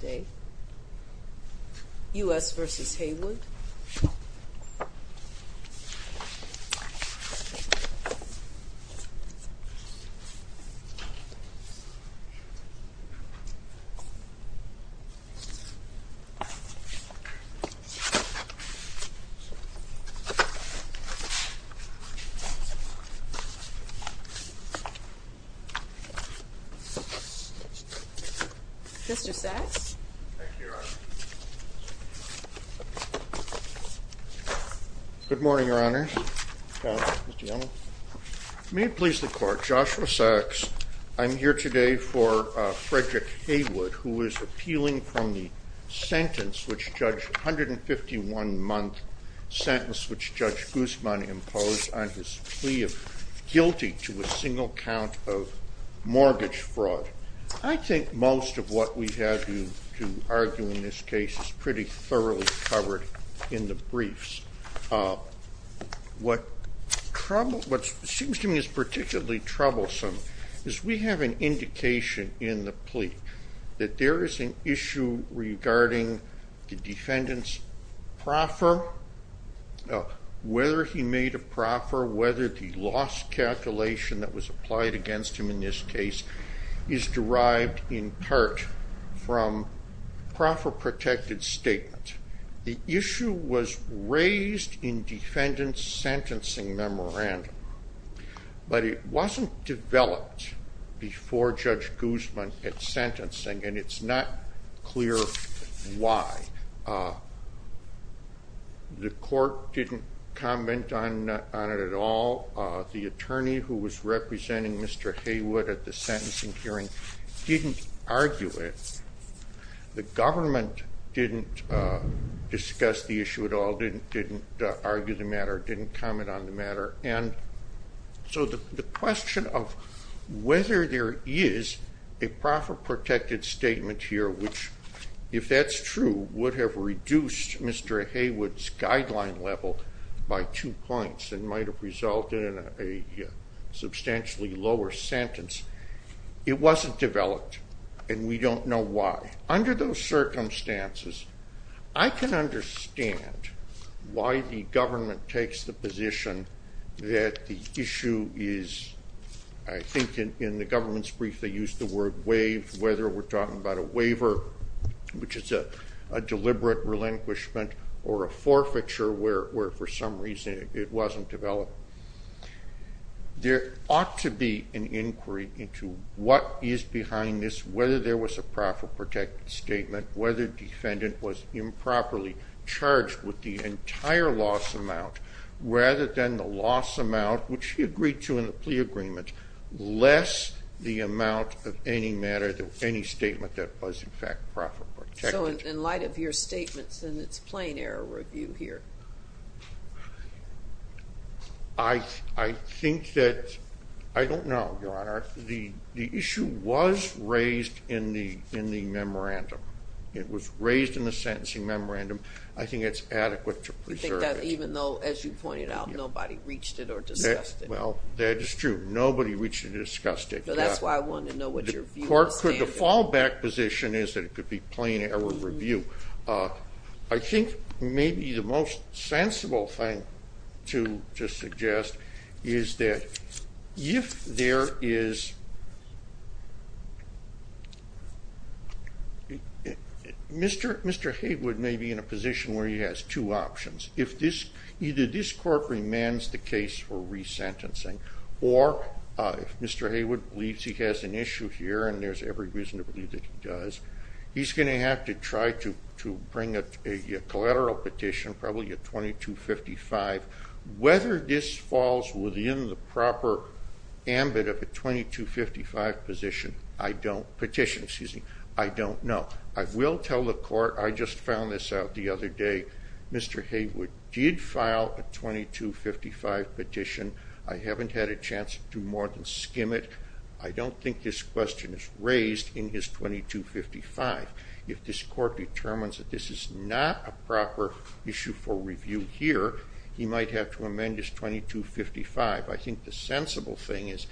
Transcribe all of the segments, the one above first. day. U. S. Versus Heywood. Thank you. Uh huh. Mr. Sachs? Thank you, Your Honor. Good morning, Your Honor. May it please the Court, Joshua Sachs. I'm here today for, uh, Frederick Haywood, who is appealing from the sentence which Judge, 151-month sentence which Judge Guzman imposed on his plea of guilty to a single count of mortgage fraud. I think most of what we have to argue in this case is pretty thoroughly covered in the briefs. Uh, what seems to me is particularly troublesome is we have an indication in the plea that there is an issue regarding the defendant's proffer. Uh, whether he made a proffer, whether the loss calculation that was applied against him in this case is derived in part from proffer protected statement. The issue was raised in defendant's sentencing memorandum. But it wasn't developed before Judge Guzman at sentencing, and it's not clear why. Uh, the court didn't comment on it at all. Uh, the attorney who was representing Mr. Haywood at the sentencing hearing didn't argue it. The government didn't discuss the issue at all, didn't argue the matter, didn't comment on the matter. And so the question of whether there is a proffer protected statement here, which, if that's true, would have reduced Mr. Haywood's guideline level by two points and might have resulted in a substantially lower sentence. It wasn't developed, and we don't know why. Under those circumstances, I can understand why the government takes the position that the issue is, I think in the government's brief, they used the word waive, whether we're talking about a waiver, which is a deliberate relinquishment or a forfeiture where for some reason it wasn't developed. There ought to be an inquiry into what is behind this, whether there was a proffer protected statement, whether defendant was improperly charged with the entire loss amount, rather than the loss amount, which he agreed to in the plea agreement, less the amount of any matter, any statement that was in fact proffer protected. So in light of your statements, then it's plain error review here. I think that, I don't know, Your Honor. The issue was raised in the memorandum. It was raised in the sentencing memorandum. I think it's adequate to preserve it. You think that even though, as you pointed out, nobody reached it or discussed it. Well, that is true. Nobody reached it or discussed it. So that's why I wanted to know what your view was. The fallback position is that it could be plain error review. I think maybe the most sensible thing to suggest is that if there is, Mr. Haywood may be in a position where he has two options. Either this court remands the case for resentencing, or if Mr. Haywood believes he has an issue here, and there's every reason to believe that he does, he's going to have to try to bring a collateral petition, probably a 2255. Whether this falls within the proper ambit of a 2255 petition, I don't know. I will tell the court, I just found this out the other day, Mr. Haywood did file a 2255 petition. I haven't had a chance to more than skim it. I don't think this question is raised in his 2255. If this court determines that this is not a proper issue for review here, he might have to amend his 2255. I think the sensible thing is,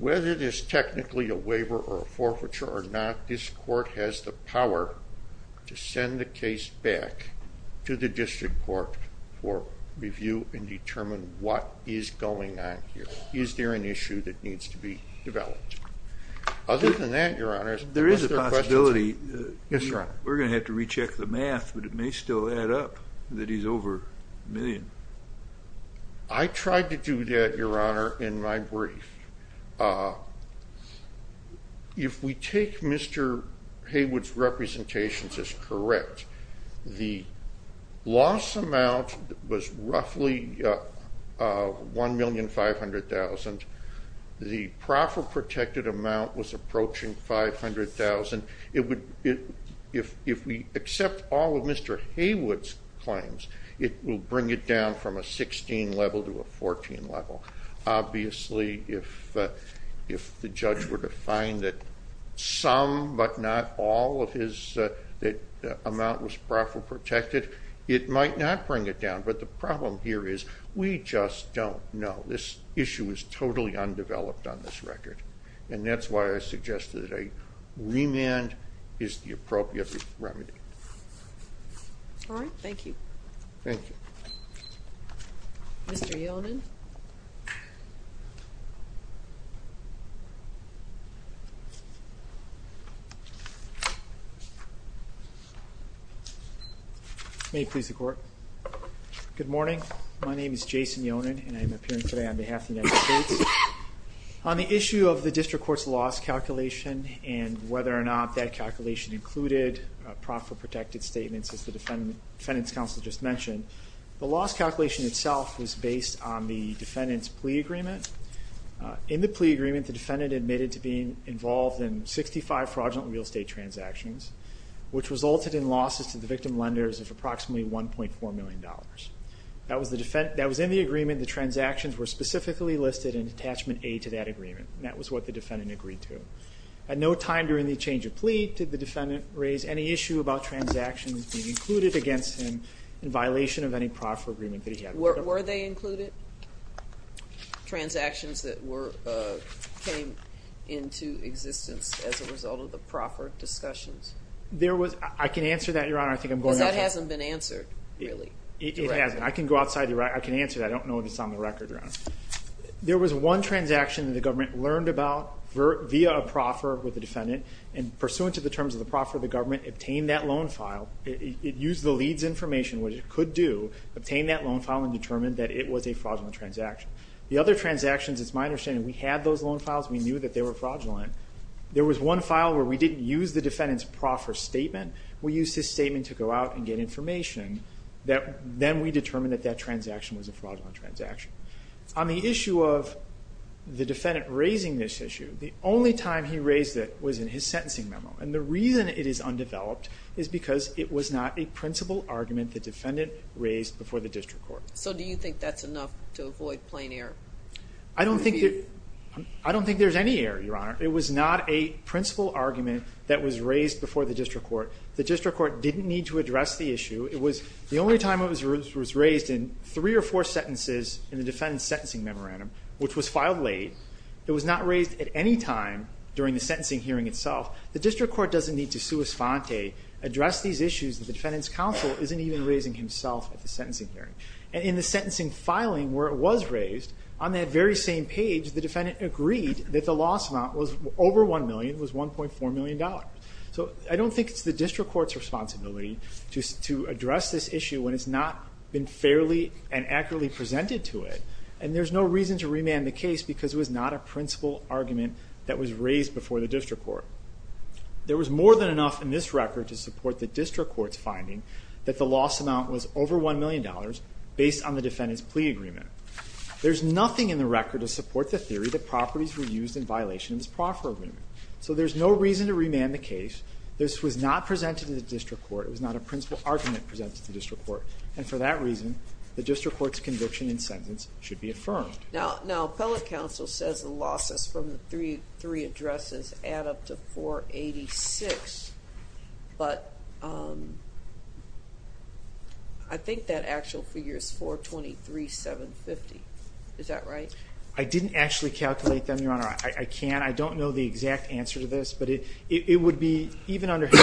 whether it is technically a waiver or a forfeiture or not, this court has the power to send the case back to the district court for review and determine what is going on here. Is there an issue that needs to be developed? Other than that, Your Honor, is there questions? Yes, Your Honor. We're going to have to recheck the math, but it may still add up that he's over a million. I tried to do that, Your Honor, in my brief. If we take Mr. Haywood's representations as correct, the loss amount was roughly 1,500,000. The proffer protected amount was approaching 500,000. If we accept all of Mr. Haywood's claims, it will bring it down from a 16 level to a 14 level. Obviously, if the judge were to find that some but not all of his amount was proffer protected, it might not bring it down. But the problem here is we just don't know. This issue is totally undeveloped on this record, and that's why I suggest that a remand is the appropriate remedy. All right. Thank you. Thank you. Mr. Yonan. May it please the Court. Good morning. My name is Jason Yonan, and I am appearing today on behalf of the United States. On the issue of the district court's loss calculation and whether or not that calculation included proffer protected statements, as the defendant's counsel just mentioned, the loss calculation itself was based on the defendant's plea agreement. In the plea agreement, the defendant admitted to being involved in 65 fraudulent real estate transactions, which resulted in losses to the victim lenders of approximately $1.4 million. That was in the agreement. The transactions were specifically listed in attachment A to that agreement, and that was what the defendant agreed to. At no time during the change of plea did the defendant raise any issue about transactions being included against him in violation of any proffer agreement that he had. Were they included, transactions that came into existence as a result of the proffer discussions? I can answer that, Your Honor. Because that hasn't been answered, really. It hasn't. I can go outside. I can answer that. I don't know if it's on the record, Your Honor. There was one transaction that the government learned about via a proffer with the defendant, and pursuant to the terms of the proffer, the government obtained that loan file. It used the lead's information, which it could do, obtained that loan file and determined that it was a fraudulent transaction. The other transactions, it's my understanding, we had those loan files. We knew that they were fraudulent. There was one file where we didn't use the defendant's proffer statement. We used his statement to go out and get information. Then we determined that that transaction was a fraudulent transaction. On the issue of the defendant raising this issue, the only time he raised it was in his sentencing memo. And the reason it is undeveloped is because it was not a principal argument the defendant raised before the district court. So do you think that's enough to avoid plain error? I don't think there's any error, Your Honor. It was not a principal argument that was raised before the district court. The district court didn't need to address the issue. It was the only time it was raised in three or four sentences in the defendant's sentencing memorandum, which was filed late. It was not raised at any time during the sentencing hearing itself. The district court doesn't need to sua sponte, address these issues that the defendant's counsel isn't even raising himself at the sentencing hearing. And in the sentencing filing where it was raised, on that very same page, the defendant agreed that the loss amount was over $1 million. It was $1.4 million. So I don't think it's the district court's responsibility to address this issue when it's not been fairly and accurately presented to it. And there's no reason to remand the case because it was not a principal argument that was raised before the district court. There was more than enough in this record to support the district court's finding that the loss amount was over $1 million based on the defendant's plea agreement. There's nothing in the record to support the theory that properties were used in violation of this proffer agreement. So there's no reason to remand the case. This was not presented to the district court. It was not a principal argument presented to the district court. And for that reason, the district court's conviction in sentence should be affirmed. Now, appellate counsel says the losses from the three addresses add up to $486,000. But I think that actual figure is $423,750. Is that right? I didn't actually calculate them, Your Honor. I can't. I don't know the exact answer to this. But it would be, even under his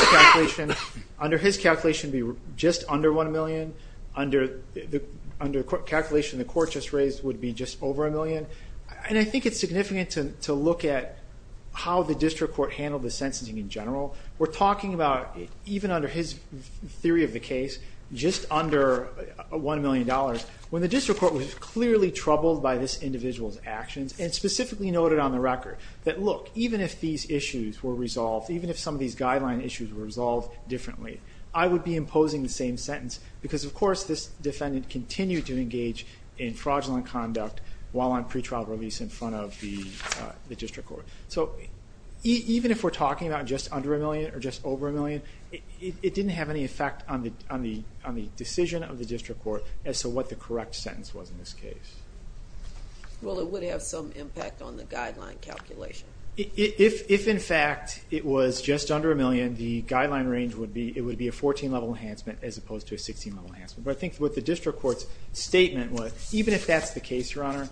calculation, just under $1 million. Under the calculation the court just raised would be just over $1 million. And I think it's significant to look at how the district court handled the sentencing in general. We're talking about, even under his theory of the case, just under $1 million. When the district court was clearly troubled by this individual's actions, and specifically noted on the record that, look, even if these issues were resolved, even if some of these guideline issues were resolved differently, I would be imposing the same sentence because, of course, this defendant continued to engage in fraudulent conduct while on pretrial release in front of the district court. So even if we're talking about just under $1 million or just over $1 million, it didn't have any effect on the decision of the district court as to what the correct sentence was in this case. Well, it would have some impact on the guideline calculation. If, in fact, it was just under $1 million, the guideline range would be a 14-level enhancement as opposed to a 16-level enhancement. But I think what the district court's statement was, even if that's the case, Your Honor,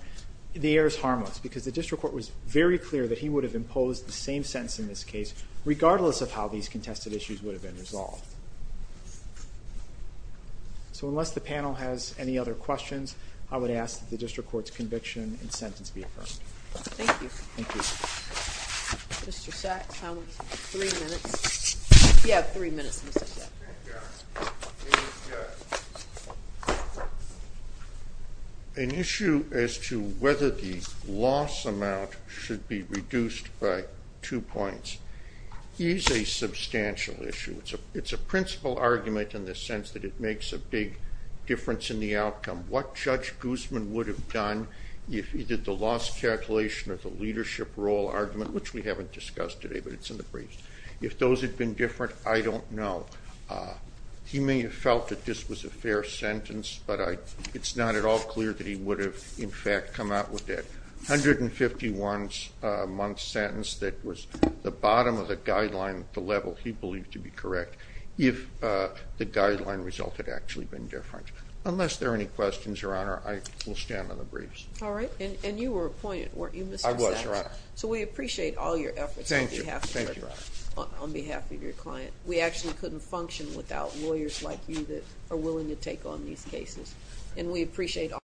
the error is harmless because the district court was very clear that he would have imposed the same sentence in this case regardless of how these contested issues would have been resolved. So unless the panel has any other questions, I would ask that the district court's conviction and sentence be affirmed. Thank you. Thank you. Mr. Sachs, how much time? Three minutes. You have three minutes, Mr. Sachs. Thank you, Your Honor. An issue as to whether the loss amount should be reduced by two points is a substantial issue. It's a principal argument in the sense that it makes a big difference in the outcome. What Judge Guzman would have done if he did the loss calculation of the leadership role argument, which we haven't discussed today, but it's in the briefs, if those had been different, I don't know. He may have felt that this was a fair sentence, but it's not at all clear that he would have, in fact, come out with that 151-month sentence that was the bottom of the guideline at the level he believed to be correct if the guideline result had actually been different. Unless there are any questions, Your Honor, I will stand on the briefs. All right. And you were appointed, weren't you, Mr. Sachs? I was, Your Honor. So we appreciate all your efforts on behalf of your client. We actually couldn't function without lawyers like you that are willing to take on these cases.